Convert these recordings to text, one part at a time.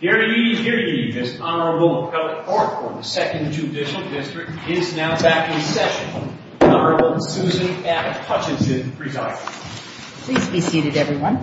Hear ye, hear ye, this Honorable Appellate Court for the Second Judicial District is now back in session. Honorable Susan F. Hutchinson presiding. Please be seated, everyone.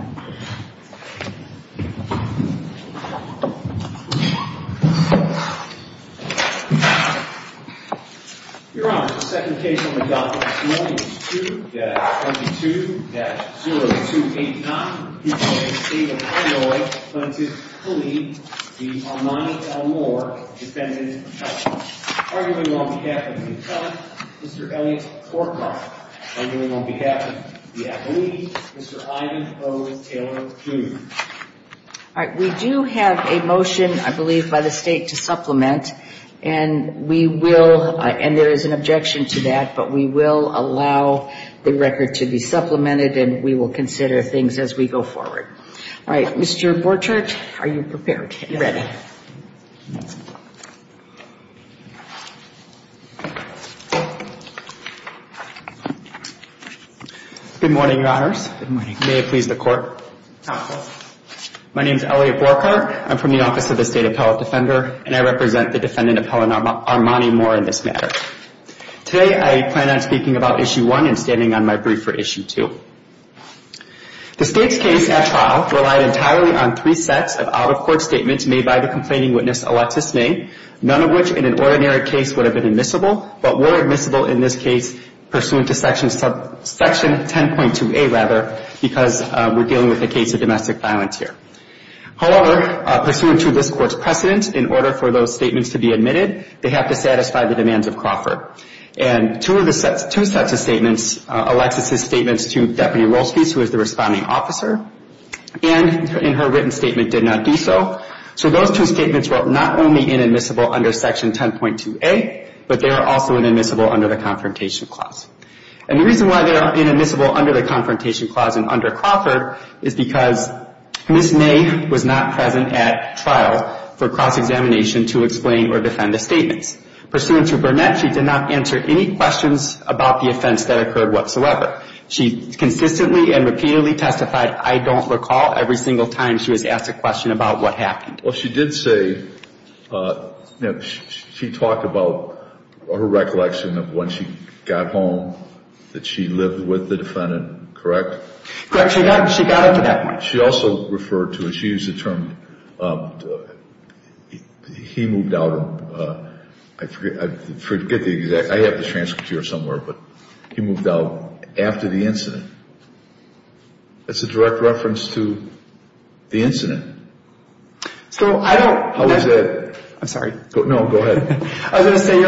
Your Honor, the second case on the docket is 42-22-0289. The state of Illinois plaintiff, Khalid, the Armani v. Moore defendant. Arguing on behalf of the attorney, Mr. Elliott Corkoff. Arguing on behalf of the appellee, Mr. Ivan O. Taylor, Jr. All right, we do have a motion, I believe, by the state to supplement, and we will, and there is an objection to that, but we will allow the record to be supplemented, and we will consider things as we go forward. All right, Mr. Borchert, are you prepared? Ready. Good morning, Your Honors. Good morning. May it please the Court. Counsel. My name is Elliott Borchert. I'm from the Office of the State Appellate Defender, and I represent the defendant, Appellant Armani Moore, in this matter. Today, I plan on speaking about Issue 1 and standing on my brief for Issue 2. The state's case at trial relied entirely on three sets of out-of-court statements made by the complaining witness, Alexis May, none of which in an ordinary case would have been admissible, but were admissible in this case pursuant to Section 10.2a, rather, because we're dealing with a case of domestic violence here. However, pursuant to this Court's precedent, in order for those statements to be admitted, they have to satisfy the demands of Crawford. And two sets of statements, Alexis's statements to Deputy Rolskies, who is the responding officer, and in her written statement did not do so. So those two statements were not only inadmissible under Section 10.2a, but they are also inadmissible under the Confrontation Clause. And the reason why they are inadmissible under the Confrontation Clause and under Crawford is because Ms. May was not present at trial for cross-examination to explain or defend the statements. Pursuant to Burnett, she did not answer any questions about the offense that occurred whatsoever. She consistently and repeatedly testified, I don't recall, every single time she was asked a question about what happened. Well, she did say, you know, she talked about her recollection of when she got home that she lived with the defendant, correct? Correct. She got it to that point. She also referred to, and she used the term, he moved out, I forget the exact, I have the transcript here somewhere, but he moved out after the incident. That's a direct reference to the incident. So I don't. How is that? I'm sorry. No, go ahead. I was going to say,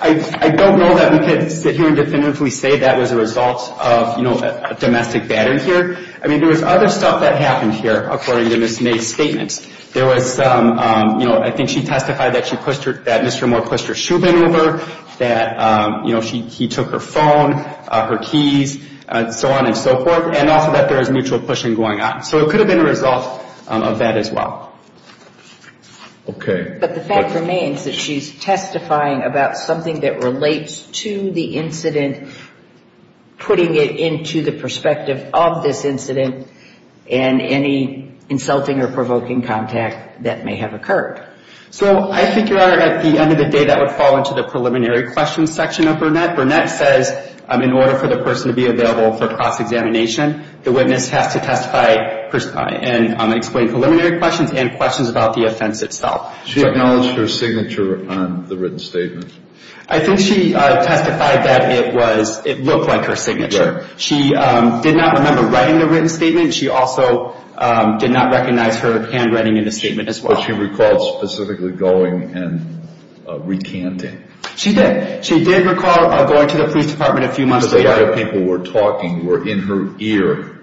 I don't know that we could sit here and definitively say that was a result of, you know, a domestic battery here. I mean, there was other stuff that happened here, according to Ms. May's statements. There was, you know, I think she testified that Mr. Moore pushed her shoe bin over, that, you know, he took her phone, her keys, and so on and so forth, and also that there was mutual pushing going on. So it could have been a result of that as well. Okay. But the fact remains that she's testifying about something that relates to the incident, putting it into the perspective of this incident, and any insulting or provoking contact that may have occurred. So I think, Your Honor, at the end of the day, that would fall into the preliminary questions section of Burnett. Burnett says in order for the person to be available for cross-examination, the witness has to testify and explain preliminary questions and questions about the offense itself. She acknowledged her signature on the written statement? I think she testified that it looked like her signature. She did not remember writing the written statement. She also did not recognize her handwriting in the statement as well. But she recalled specifically going and recanting? She did. She did recall going to the police department a few months later. Because a lot of people were talking, were in her ear,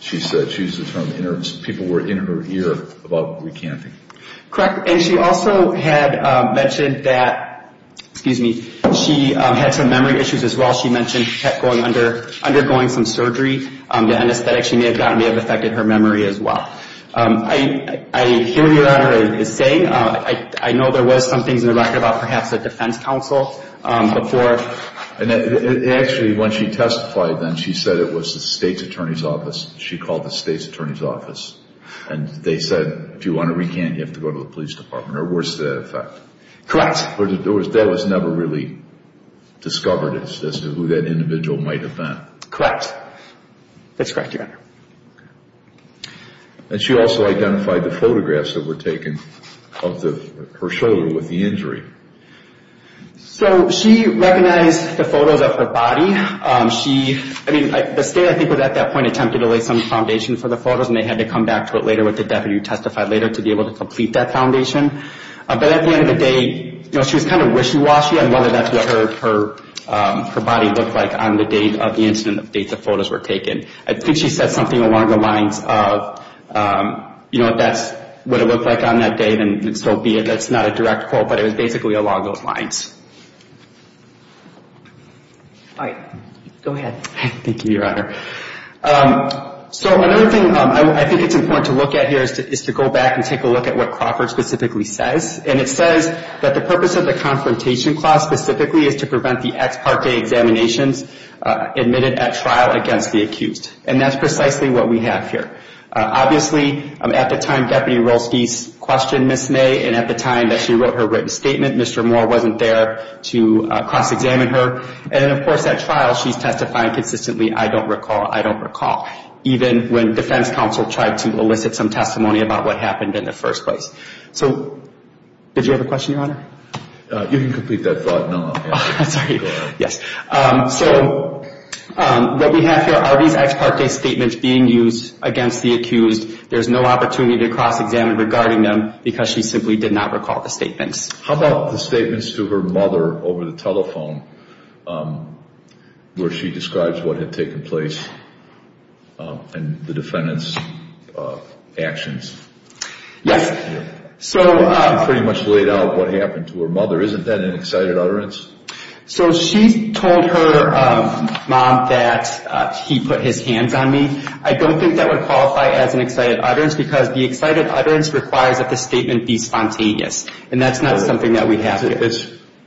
she said. She used the term, people were in her ear about recanting. Correct. And she also had mentioned that, excuse me, she had some memory issues as well. She mentioned undergoing some surgery. The anesthetic she may have gotten may have affected her memory as well. I hear what Your Honor is saying. I know there was some things in the record about perhaps the defense counsel before. Actually, when she testified then, she said it was the state's attorney's office. She called the state's attorney's office. And they said, if you want to recant, you have to go to the police department. Or worse to that effect. Correct. But that was never really discovered as to who that individual might have been. Correct. That's correct, Your Honor. And she also identified the photographs that were taken of her shoulder with the injury. So she recognized the photos of her body. She, I mean, the state I think was at that point attempted to lay some foundation for the photos and they had to come back to it later with the deputy who testified later to be able to complete that foundation. But at the end of the day, you know, she was kind of wishy-washy on whether that's what her body looked like on the date of the incident, the date the photos were taken. I think she said something along the lines of, you know, if that's what it looked like on that day, then so be it. That's not a direct quote, but it was basically along those lines. All right. Go ahead. Thank you, Your Honor. So another thing I think it's important to look at here is to go back and take a look at what Crawford specifically says. And it says that the purpose of the confrontation clause specifically is to prevent the ex parte examinations admitted at trial against the accused. And that's precisely what we have here. Obviously, at the time Deputy Rolske questioned Ms. May and at the time that she wrote her written statement, Mr. Moore wasn't there to cross-examine her. And, of course, at trial she's testifying consistently, I don't recall, I don't recall, even when defense counsel tried to elicit some testimony about what happened in the first place. So did you have a question, Your Honor? You can complete that thought now. I'm sorry. Go ahead. Yes. So what we have here are these ex parte statements being used against the accused. There's no opportunity to cross-examine regarding them because she simply did not recall the statements. How about the statements to her mother over the telephone where she describes what had taken place and the defendant's actions? Yes. She pretty much laid out what happened to her mother. Isn't that an excited utterance? So she told her mom that he put his hands on me. I don't think that would qualify as an excited utterance because the excited utterance requires that the statement be spontaneous. And that's not something that we have here.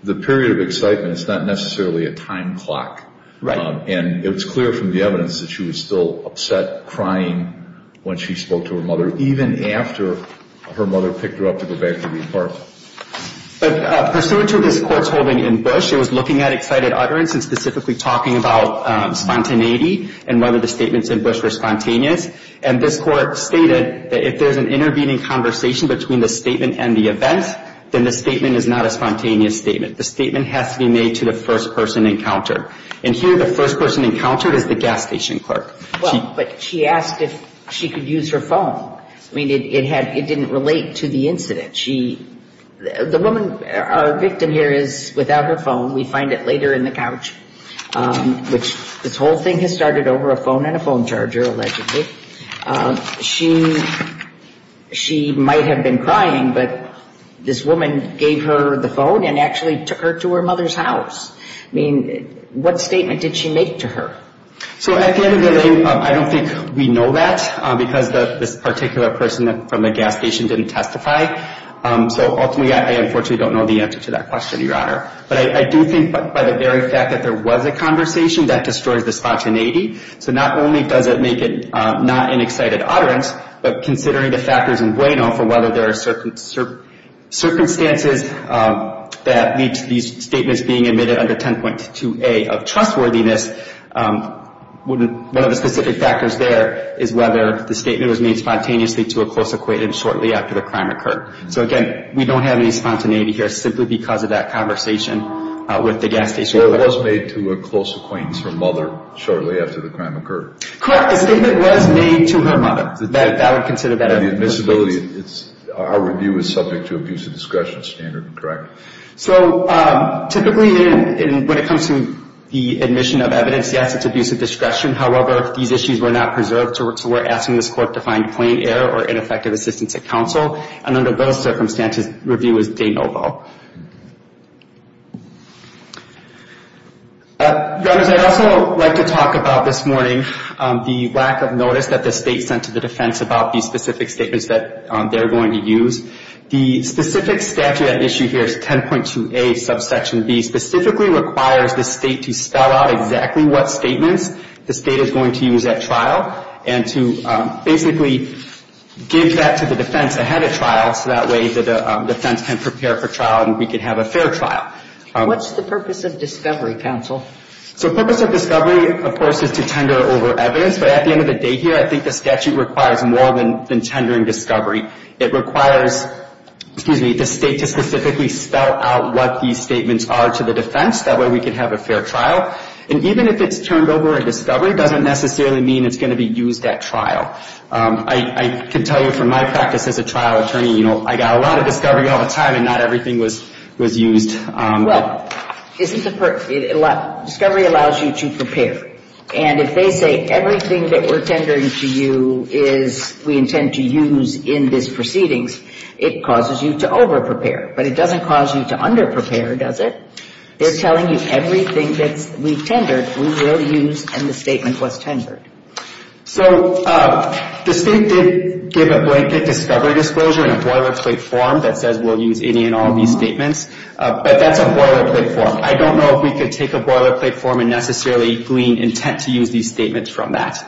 The period of excitement is not necessarily a time clock. Right. And it was clear from the evidence that she was still upset, crying when she spoke to her mother, even after her mother picked her up to go back to the apartment. But pursuant to this court's holding in Bush, it was looking at excited utterance and specifically talking about spontaneity and whether the statements in Bush were spontaneous. And this court stated that if there's an intervening conversation between the statement and the event, then the statement is not a spontaneous statement. The statement has to be made to the first person encountered. And here the first person encountered is the gas station clerk. Well, but she asked if she could use her phone. I mean, it didn't relate to the incident. The woman, our victim here is without her phone. We find it later in the couch. This whole thing has started over a phone and a phone charger, allegedly. She might have been crying, but this woman gave her the phone and actually took her to her mother's house. I mean, what statement did she make to her? So at the end of the day, I don't think we know that because this particular person from the gas station didn't testify. So ultimately, I unfortunately don't know the answer to that question, Your Honor. But I do think by the very fact that there was a conversation, that destroys the spontaneity. So not only does it make it not an excited utterance, but considering the factors in Bueno for whether there are circumstances that lead to these statements being admitted under 10.2a of trustworthiness, one of the specific factors there is whether the statement was made spontaneously to a close acquaintance shortly after the crime occurred. So again, we don't have any spontaneity here simply because of that conversation with the gas station. So it was made to a close acquaintance, her mother, shortly after the crime occurred. Correct. The statement was made to her mother. That would consider that evidence. And the admissibility, our review is subject to abusive discretion standard, correct? So typically, when it comes to the admission of evidence, yes, it's abusive discretion. However, these issues were not preserved. And under those circumstances, review is de novo. Your Honors, I'd also like to talk about this morning, the lack of notice that the state sent to the defense about these specific statements that they're going to use. The specific statute at issue here is 10.2a, subsection b, specifically requires the state to spell out exactly what statements the state is going to use at trial and to basically give that to the defense ahead of trial, so that way the defense can prepare for trial and we can have a fair trial. What's the purpose of discovery, counsel? So purpose of discovery, of course, is to tender over evidence. But at the end of the day here, I think the statute requires more than tendering discovery. It requires, excuse me, the state to specifically spell out what these statements are to the defense. That way we can have a fair trial. And even if it's turned over at discovery, it doesn't necessarily mean it's going to be used at trial. I can tell you from my practice as a trial attorney, you know, I got a lot of discovery all the time and not everything was used. Well, isn't the purpose, discovery allows you to prepare. And if they say everything that we're tendering to you is we intend to use in this proceedings, it causes you to overprepare. But it doesn't cause you to underprepare, does it? They're telling you everything that we've tendered, we will use, and the statement was tendered. So the state did give a blanket discovery disclosure in a boilerplate form that says we'll use any and all of these statements. But that's a boilerplate form. I don't know if we could take a boilerplate form and necessarily glean intent to use these statements from that.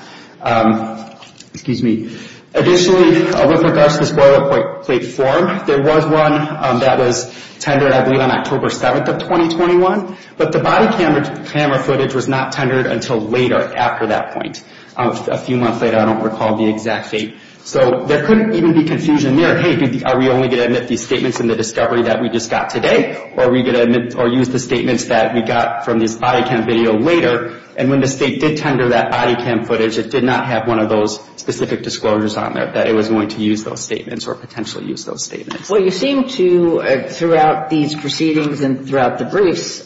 Excuse me. Additionally, with regards to this boilerplate form, there was one that was tendered, I believe, on October 7th of 2021, but the body camera footage was not tendered until later after that point. A few months later, I don't recall the exact date. So there couldn't even be confusion there. Hey, are we only going to admit these statements in the discovery that we just got today? Or are we going to use the statements that we got from this body cam video later? And when the state did tender that body cam footage, it did not have one of those specific disclosures on there that it was going to use those statements or potentially use those statements. Well, you seem to, throughout these proceedings and throughout the briefs,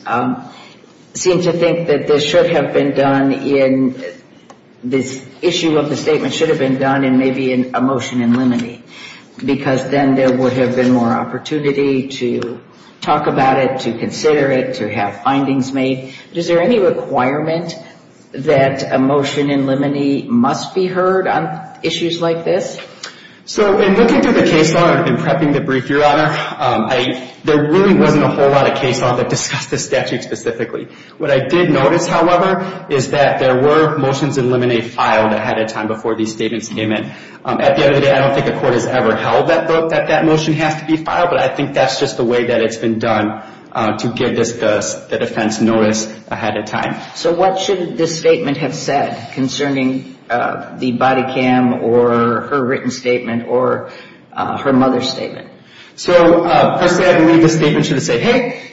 seem to think that this should have been done in this issue of the statement should have been done in maybe a motion in limine, because then there would have been more opportunity to talk about it, to consider it, to have findings made. Is there any requirement that a motion in limine must be heard on issues like this? So in looking through the case law, I've been prepping the brief, Your Honor. There really wasn't a whole lot of case law that discussed this statute specifically. What I did notice, however, is that there were motions in limine filed ahead of time before these statements came in. At the end of the day, I don't think a court has ever held that vote that that motion has to be filed, but I think that's just the way that it's been done to give the defense notice ahead of time. So what should this statement have said concerning the body cam or her written statement or her mother's statement? So, firstly, I believe the statement should have said, hey,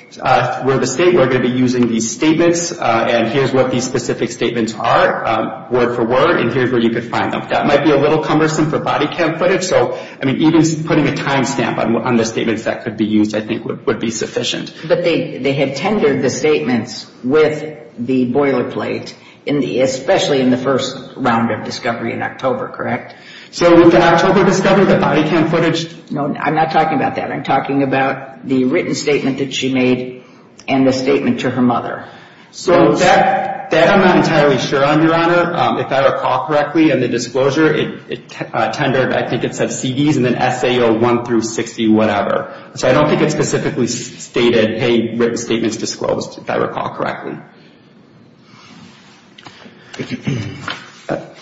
we're the state. We're going to be using these statements, and here's what these specific statements are, word for word, and here's where you could find them. That might be a little cumbersome for body cam footage, so, I mean, even putting a time stamp on the statements that could be used, I think, would be sufficient. But they had tendered the statements with the boilerplate, especially in the first round of discovery in October, correct? So with the October discovery, the body cam footage? No, I'm not talking about that. I'm talking about the written statement that she made and the statement to her mother. So that I'm not entirely sure on, Your Honor. If I recall correctly, in the disclosure, it tendered, I think it said CDs and then SAO 1 through 60, whatever. So I don't think it specifically stated, hey, written statement is disclosed, if I recall correctly.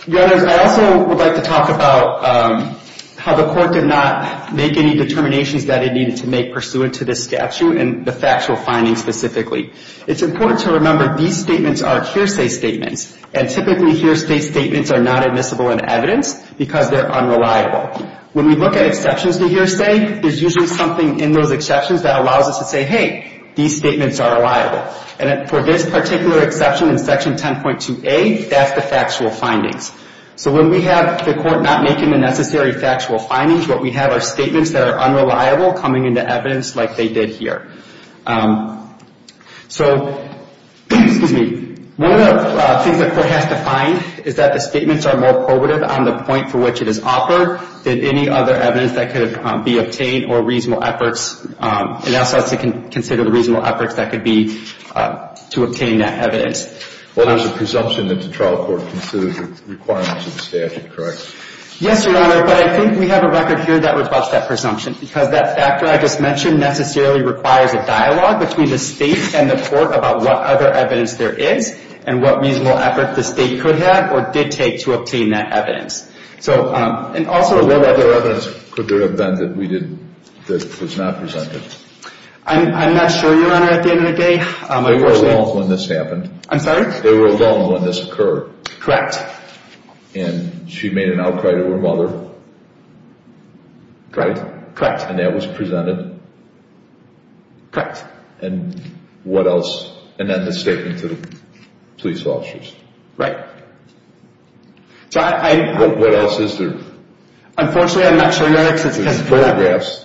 Your Honor, I also would like to talk about how the court did not make any determinations that it needed to make pursuant to this statute and the factual findings specifically. It's important to remember these statements are hearsay statements, and typically hearsay statements are not admissible in evidence because they're unreliable. When we look at exceptions to hearsay, there's usually something in those exceptions that allows us to say, hey, these statements are reliable. And for this particular exception in Section 10.2a, that's the factual findings. So when we have the court not making the necessary factual findings, what we have are statements that are unreliable coming into evidence like they did here. So, excuse me. One of the things the court has defined is that the statements are more probative on the point for which it is offered than any other evidence that could be obtained or reasonable efforts. It asks us to consider the reasonable efforts that could be to obtain that evidence. Well, there's a presumption that the trial court considers the requirements of the statute, correct? Yes, Your Honor, but I think we have a record here that reflects that presumption because that factor I just mentioned necessarily requires a dialogue between the state and the court about what other evidence there is and what reasonable effort the state could have or did take to obtain that evidence. And also, what other evidence could there have been that was not presented? I'm not sure, Your Honor, at the end of the day. They were alone when this happened. I'm sorry? They were alone when this occurred. Correct. And she made an outcry to her mother. Correct. And that was presented. Correct. And what else? And then the statement to the police officers. Right. What else is there? Unfortunately, I'm not sure, Your Honor. There's photographs.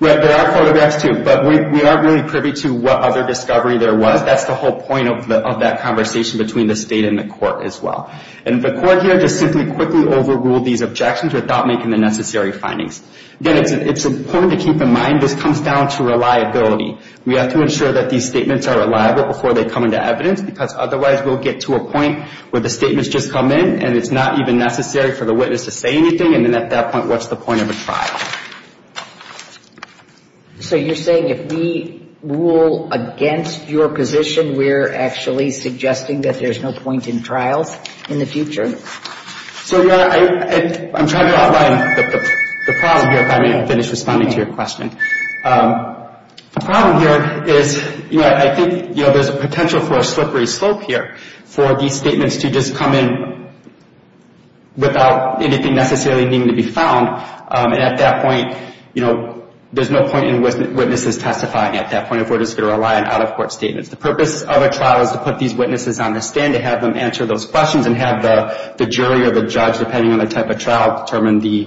There are photographs, too, but we aren't really privy to what other discovery there was. That's the whole point of that conversation between the state and the court as well. And the court here just simply quickly overruled these objections without making the necessary findings. Again, it's important to keep in mind this comes down to reliability. We have to ensure that these statements are reliable before they come into evidence, because otherwise we'll get to a point where the statements just come in and it's not even necessary for the witness to say anything, and then at that point what's the point of a trial? So you're saying if we rule against your position, we're actually suggesting that there's no point in trials in the future? So, Your Honor, I'm trying to outline the problem here if I may finish responding to your question. The problem here is I think there's a potential for a slippery slope here for these statements to just come in without anything necessarily needing to be found, and at that point there's no point in witnesses testifying at that point if we're just going to rely on out-of-court statements. The purpose of a trial is to put these witnesses on the stand, to have them answer those questions, and have the jury or the judge, depending on the type of trial, determine the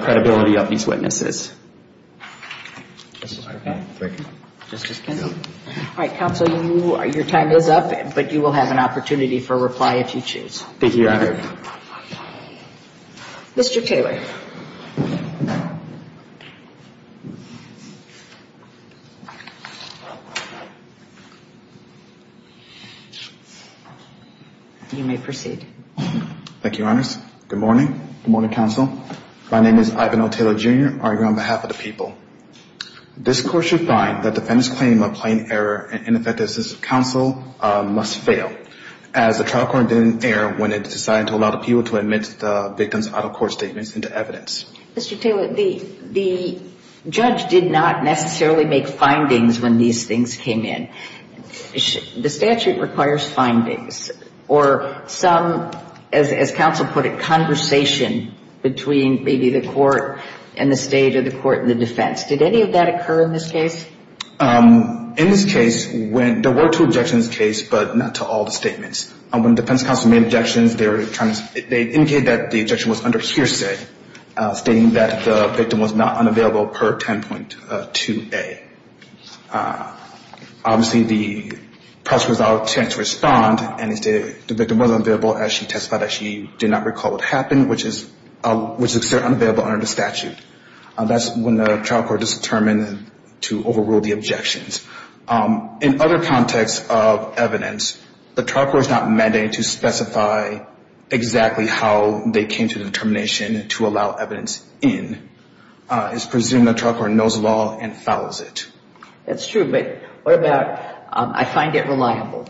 credibility of these witnesses. All right, counsel, your time is up, but you will have an opportunity for a reply if you choose. Thank you, Your Honor. Mr. Taylor. You may proceed. Thank you, Your Honors. Good morning. Good morning, counsel. My name is Ivan O. Taylor, Jr. I argue on behalf of the people. This Court should find that the defendant's claim of plain error and ineffective assistance of counsel must fail, as the trial court didn't err when it decided to allow the people to admit the victim's out-of-court statements into evidence. Mr. Taylor, the judge did not necessarily make findings when these things came in. The statute requires findings, or some, as counsel put it, conversation between maybe the court and the State or the court and the defense. Did any of that occur in this case? In this case, there were two objections to this case, but not to all the statements. When the defense counsel made objections, they indicated that the objection was under hearsay, stating that the victim was not unavailable per 10.2A. Obviously, the press was out to respond, and the victim was unavailable as she testified that she did not recall what happened, which is considered unavailable under the statute. That's when the trial court is determined to overrule the objections. In other contexts of evidence, the trial court is not mandated to specify exactly how they came to the determination to allow evidence in. It's presumed the trial court knows the law and follows it. That's true, but what about I find it reliable?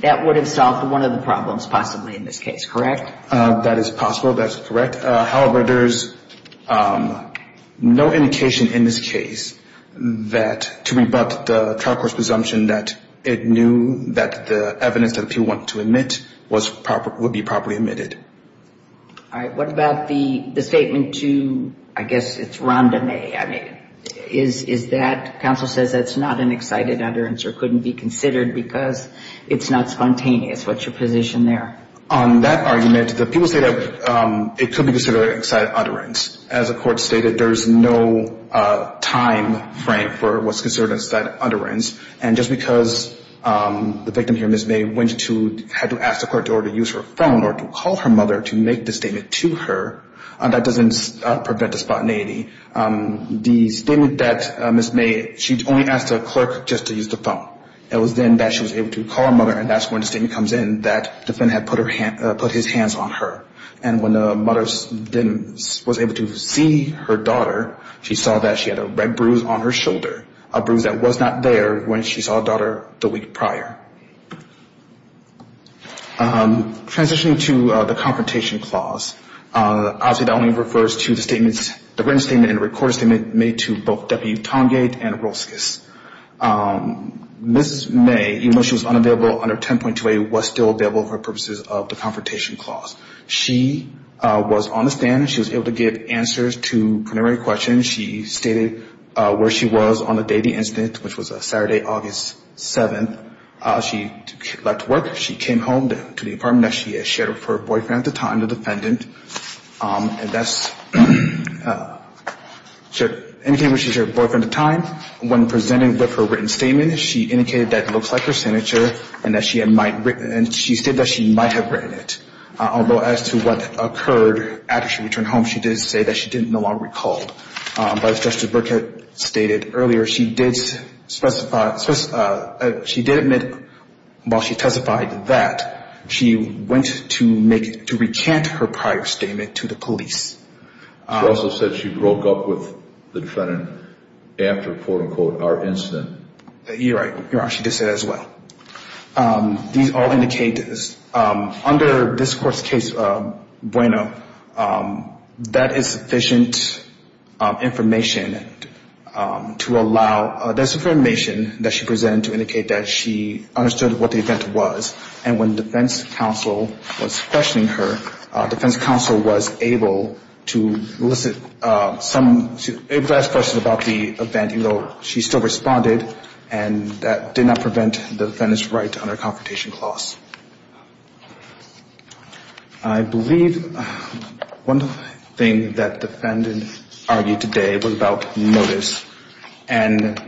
That would have solved one of the problems possibly in this case, correct? That is possible. That is correct. However, there's no indication in this case that to rebut the trial court's presumption that it knew that the evidence that the people wanted to admit would be properly admitted. All right. What about the statement to, I guess it's Rhonda May. I mean, is that, counsel says that's not an excited utterance or couldn't be considered because it's not spontaneous. What's your position there? On that argument, the people say that it could be considered an excited utterance. As the court stated, there's no time frame for what's considered an excited utterance, and just because the victim here, Ms. May, had to ask the clerk to use her phone or to call her mother to make the statement to her, that doesn't prevent the spontaneity. The statement that Ms. May, she only asked the clerk just to use the phone. It was then that she was able to call her mother, and that's when the statement comes in, that the defendant had put his hands on her. And when the mother then was able to see her daughter, she saw that she had a red bruise on her shoulder, a bruise that was not there when she saw her daughter the week prior. Transitioning to the confrontation clause, obviously that only refers to the written statement and the recorded statement made to both W. Tongate and Rolskis. Ms. May, even though she was unavailable under 10.28, was still available for purposes of the confrontation clause. She was on the stand. She was able to give answers to preliminary questions. She stated where she was on the day of the incident, which was Saturday, August 7th. She left work. She came home to the apartment that she had shared with her boyfriend at the time, the defendant. And that's anything that she shared with her boyfriend at the time. When presenting with her written statement, she indicated that it looks like her signature and that she might have written it. Although as to what occurred after she returned home, she did say that she didn't no longer recall. But as Justice Burkett stated earlier, she did admit while she testified that she went to recant her prior statement to the police. She also said she broke up with the defendant after, quote, unquote, our incident. You're right. You're right. She did say that as well. These all indicate, under this court's case, Bueno, that is sufficient information to allow, that's information that she presented to indicate that she understood what the event was. And when the defense counsel was questioning her, defense counsel was able to elicit some, able to ask questions about the event, even though she still responded. And that did not prevent the defendant's right under Confrontation Clause. I believe one thing that the defendant argued today was about motives. And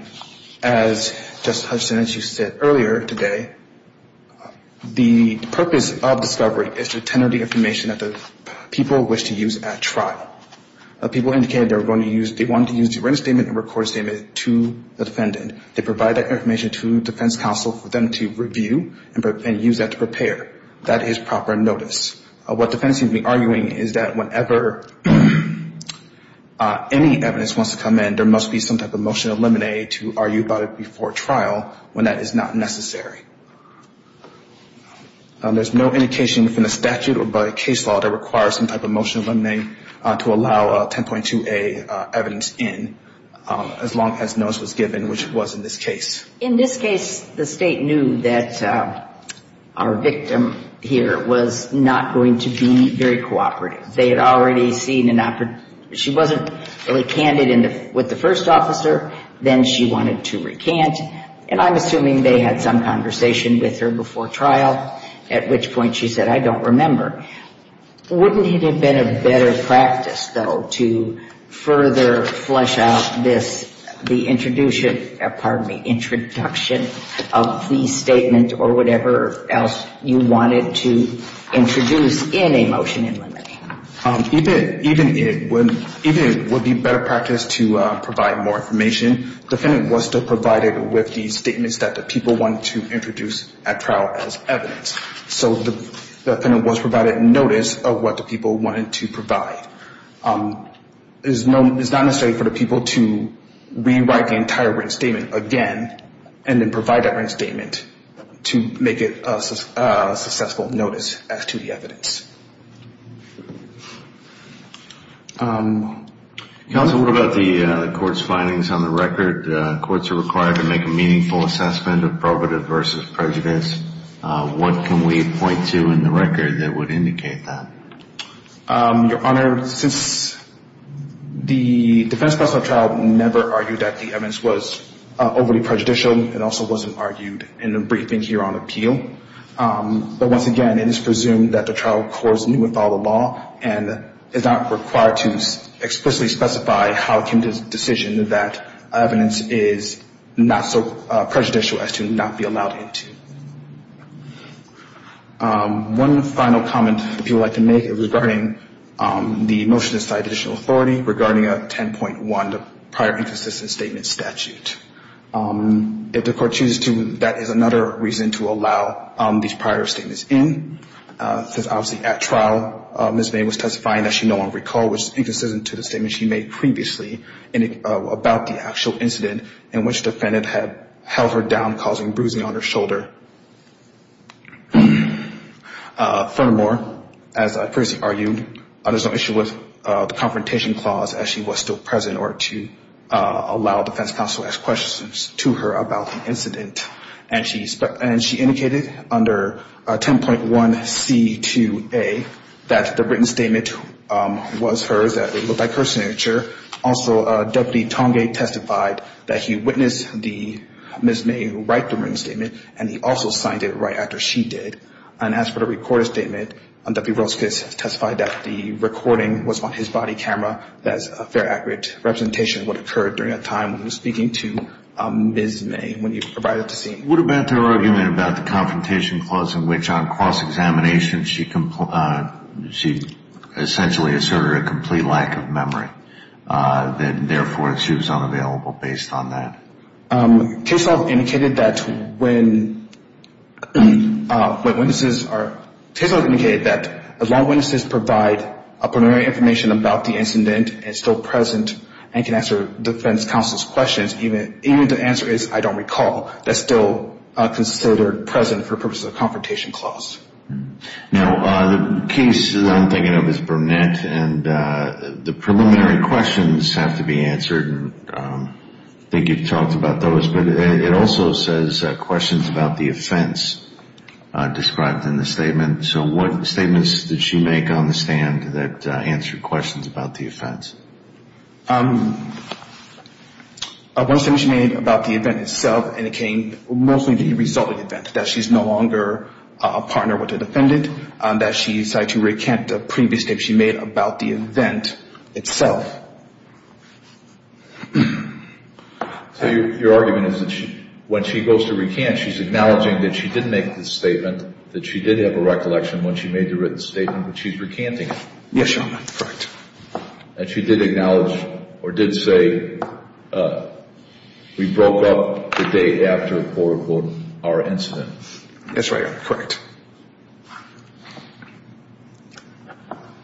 as Justice Hutchinson and she said earlier today, the purpose of discovery is to tenor the information that the people wish to use at trial. People indicated they were going to use, they wanted to use the written statement and recorded statement to the defendant. They provide that information to defense counsel for them to review and use that to prepare. That is proper notice. What the defense seems to be arguing is that whenever any evidence wants to come in, there must be some type of motion of limine to argue about it before trial when that is not necessary. There's no indication within the statute or by case law that requires some type of motion of limine to allow 10.2a evidence in as long as notice was given, which was in this case. In this case, the State knew that our victim here was not going to be very cooperative. They had already seen an, she wasn't really candid with the first officer. Then she wanted to recant. And I'm assuming they had some conversation with her before trial, at which point she said, I don't remember. Wouldn't it have been a better practice, though, to further flesh out this, the introduction, pardon me, introduction of the statement or whatever else you wanted to introduce in a motion of limine? Even if it would be better practice to provide more information, the defendant was still provided with the statements that the people wanted to introduce at trial as evidence. So the defendant was provided notice of what the people wanted to provide. It's not necessary for the people to rewrite the entire written statement again and then provide that written statement to make it a successful notice as to the evidence. Counsel, what about the court's findings on the record? Courts are required to make a meaningful assessment of probative versus prejudice. What can we point to in the record that would indicate that? Your Honor, since the defense of the trial never argued that the evidence was overly prejudicial, it also wasn't argued in a briefing here on appeal. But once again, it is presumed that the trial corresponded with all the law and is not required to explicitly specify how it came to the decision that evidence is not so prejudicial as to not be allowed into. One final comment, if you would like to make, is regarding the motion to cite additional authority regarding a 10.1 prior inconsistent statement statute. If the court chooses to, that is another reason to allow these prior statements in. Because obviously at trial, Ms. May was testifying that she no longer recalled which is inconsistent to the statement she made previously about the actual incident in which the defendant had held her down causing bruising on her shoulder. Furthermore, as I previously argued, there's no issue with the confrontation clause as she was still present in order to allow defense counsel to ask questions to her about the incident. And she indicated under 10.1C2A that the written statement was hers, that it looked like her signature. Also, Deputy Tongate testified that he witnessed Ms. May write the written statement and he also signed it right after she did. And as for the recorded statement, Deputy Roskus testified that the recording was on his body camera as a fair, accurate representation of what occurred during that time when he was speaking to Ms. May when he arrived at the scene. What about her argument about the confrontation clause in which on cross-examination she essentially asserted a complete lack of memory and therefore she was unavailable based on that? Case law indicated that when witnesses are Case law indicated that when witnesses provide preliminary information about the incident and still present and can answer defense counsel's questions, even if the answer is I don't recall, that's still considered present for purposes of the confrontation clause. Now, the case that I'm thinking of is Burnett, and the preliminary questions have to be answered. I think you've talked about those. But it also says questions about the offense described in the statement. So what statements did she make on the stand that answered questions about the offense? One statement she made about the event itself, and it came mostly as a result of the event, that she's no longer a partner with the defendant, that she decided to recant a previous statement she made about the event itself. So your argument is that when she goes to recant, she's acknowledging that she didn't make the statement, that she did have a recollection when she made the written statement, but she's recanting it. Yes, Your Honor. Correct. And she did acknowledge or did say we broke up the day after, quote, unquote, our incident. That's right, Your Honor. Correct.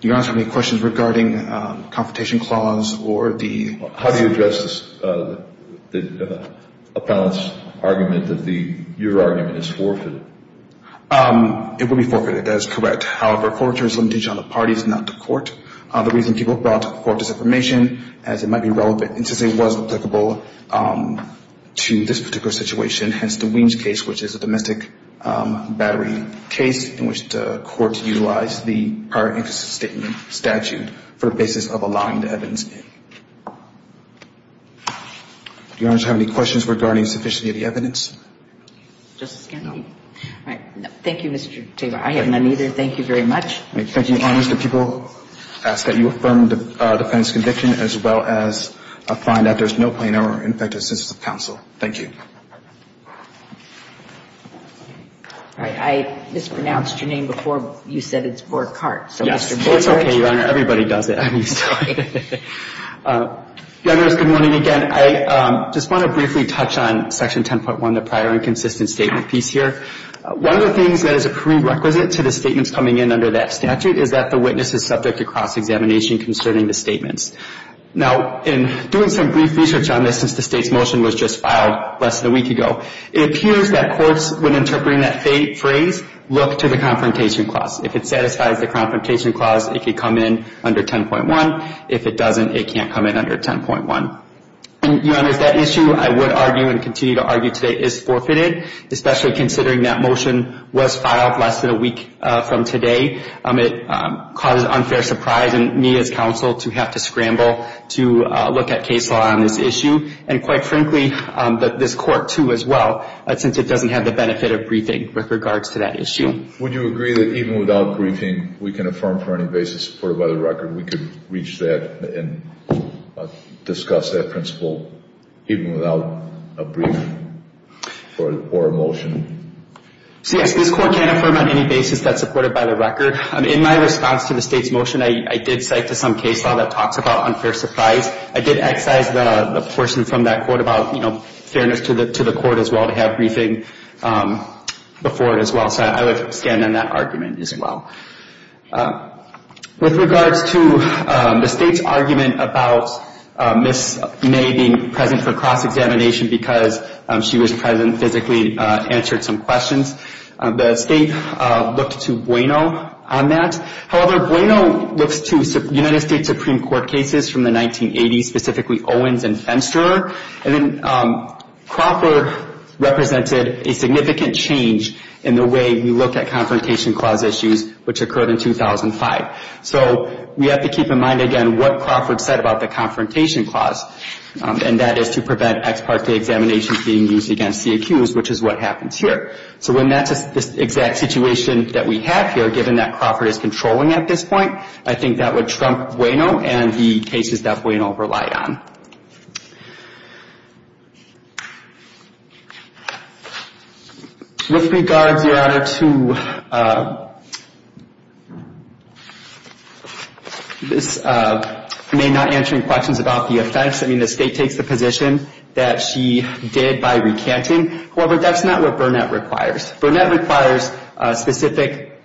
Your Honor, do you have any questions regarding the confrontation clause or the- How do you address the appellant's argument that your argument is forfeited? It would be forfeited. That is correct. However, forfeiture is a limitation on the parties, not the court. The reason people brought forth this information is it might be relevant, and since it was applicable to this particular situation, hence the Weems case, which is a domestic battery case in which the court utilized the prior inconsistent statement statute for a basis of allowing the evidence in. Your Honor, do you have any questions regarding sufficiency of the evidence? Justice Kennedy? No. All right. Thank you, Mr. Tabor. I have none either. Thank you very much. Thank you, Your Honor. Mr. People, I ask that you affirm the defendant's conviction as well as find that there's no plain error in effect of the census of counsel. Thank you. All right. I mispronounced your name before. You said it's Borkhart. Yes. It's okay, Your Honor. Everybody does it. Good morning again. I just want to briefly touch on Section 10.1, the prior inconsistent statement piece here. One of the things that is a prerequisite to the statements coming in under that statute is that the witness is subject to cross-examination concerning the statements. Now, in doing some brief research on this since the state's motion was just filed less than a week ago, it appears that courts, when interpreting that phrase, look to the confrontation clause. If it satisfies the confrontation clause, it could come in under 10.1. If it doesn't, it can't come in under 10.1. Your Honor, that issue, I would argue and continue to argue today, is forfeited, especially considering that motion was filed less than a week from today. It causes unfair surprise in me as counsel to have to scramble to look at case law on this issue, and quite frankly, this Court, too, as well, since it doesn't have the benefit of briefing with regards to that issue. Would you agree that even without briefing, we can affirm for any basis supported by the record? We could reach that and discuss that principle even without a brief or a motion? So, yes, this Court can affirm on any basis that's supported by the record. In my response to the state's motion, I did cite to some case law that talks about unfair surprise. I did excise the portion from that quote about, you know, fairness to the Court, as well, to have briefing before it, as well, so I would stand on that argument, as well. With regards to the state's argument about Ms. May being present for cross-examination because she was present and physically answered some questions, the state looked to Bueno on that. However, Bueno looks to United States Supreme Court cases from the 1980s, specifically Owens and Fenster. And then Crawford represented a significant change in the way we look at Confrontation Clause issues, which occurred in 2005. So we have to keep in mind, again, what Crawford said about the Confrontation Clause, and that is to prevent ex parte examinations being used against the accused, which is what happens here. So when that's the exact situation that we have here, given that Crawford is controlling at this point, I think that would trump Bueno and the cases that Bueno relied on. With regards, Your Honor, to Ms. May not answering questions about the offense, I mean, the state takes the position that she did by recanting. However, that's not what Burnett requires. Burnett requires specific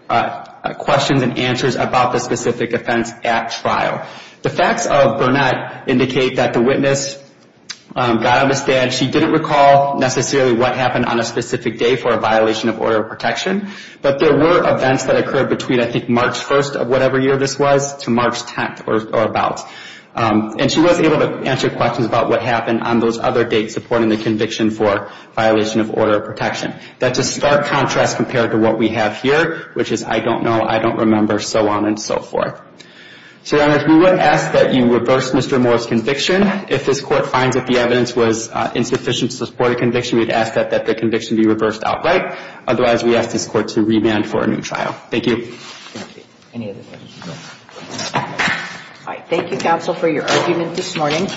questions and answers about the specific offense at trial. The facts of Burnett indicate that the witness, God understand, she didn't recall necessarily what happened on a specific day for a violation of order of protection, but there were events that occurred between, I think, March 1st of whatever year this was to March 10th or about. And she was able to answer questions about what happened on those other dates supporting the conviction for violation of order of protection. That's a stark contrast compared to what we have here, which is I don't know, I don't remember, so on and so forth. So, Your Honor, we would ask that you reverse Mr. Moore's conviction. If this Court finds that the evidence was insufficient to support a conviction, we would ask that the conviction be reversed outright. Otherwise, we ask this Court to remand for a new trial. Thank you. Thank you. Any other questions? All right. Thank you, counsel, for your argument this morning.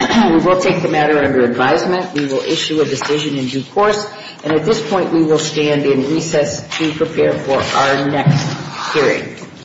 We will take the matter under advisement. We will issue a decision in due course. And at this point, we will stand in recess to prepare for our next hearing.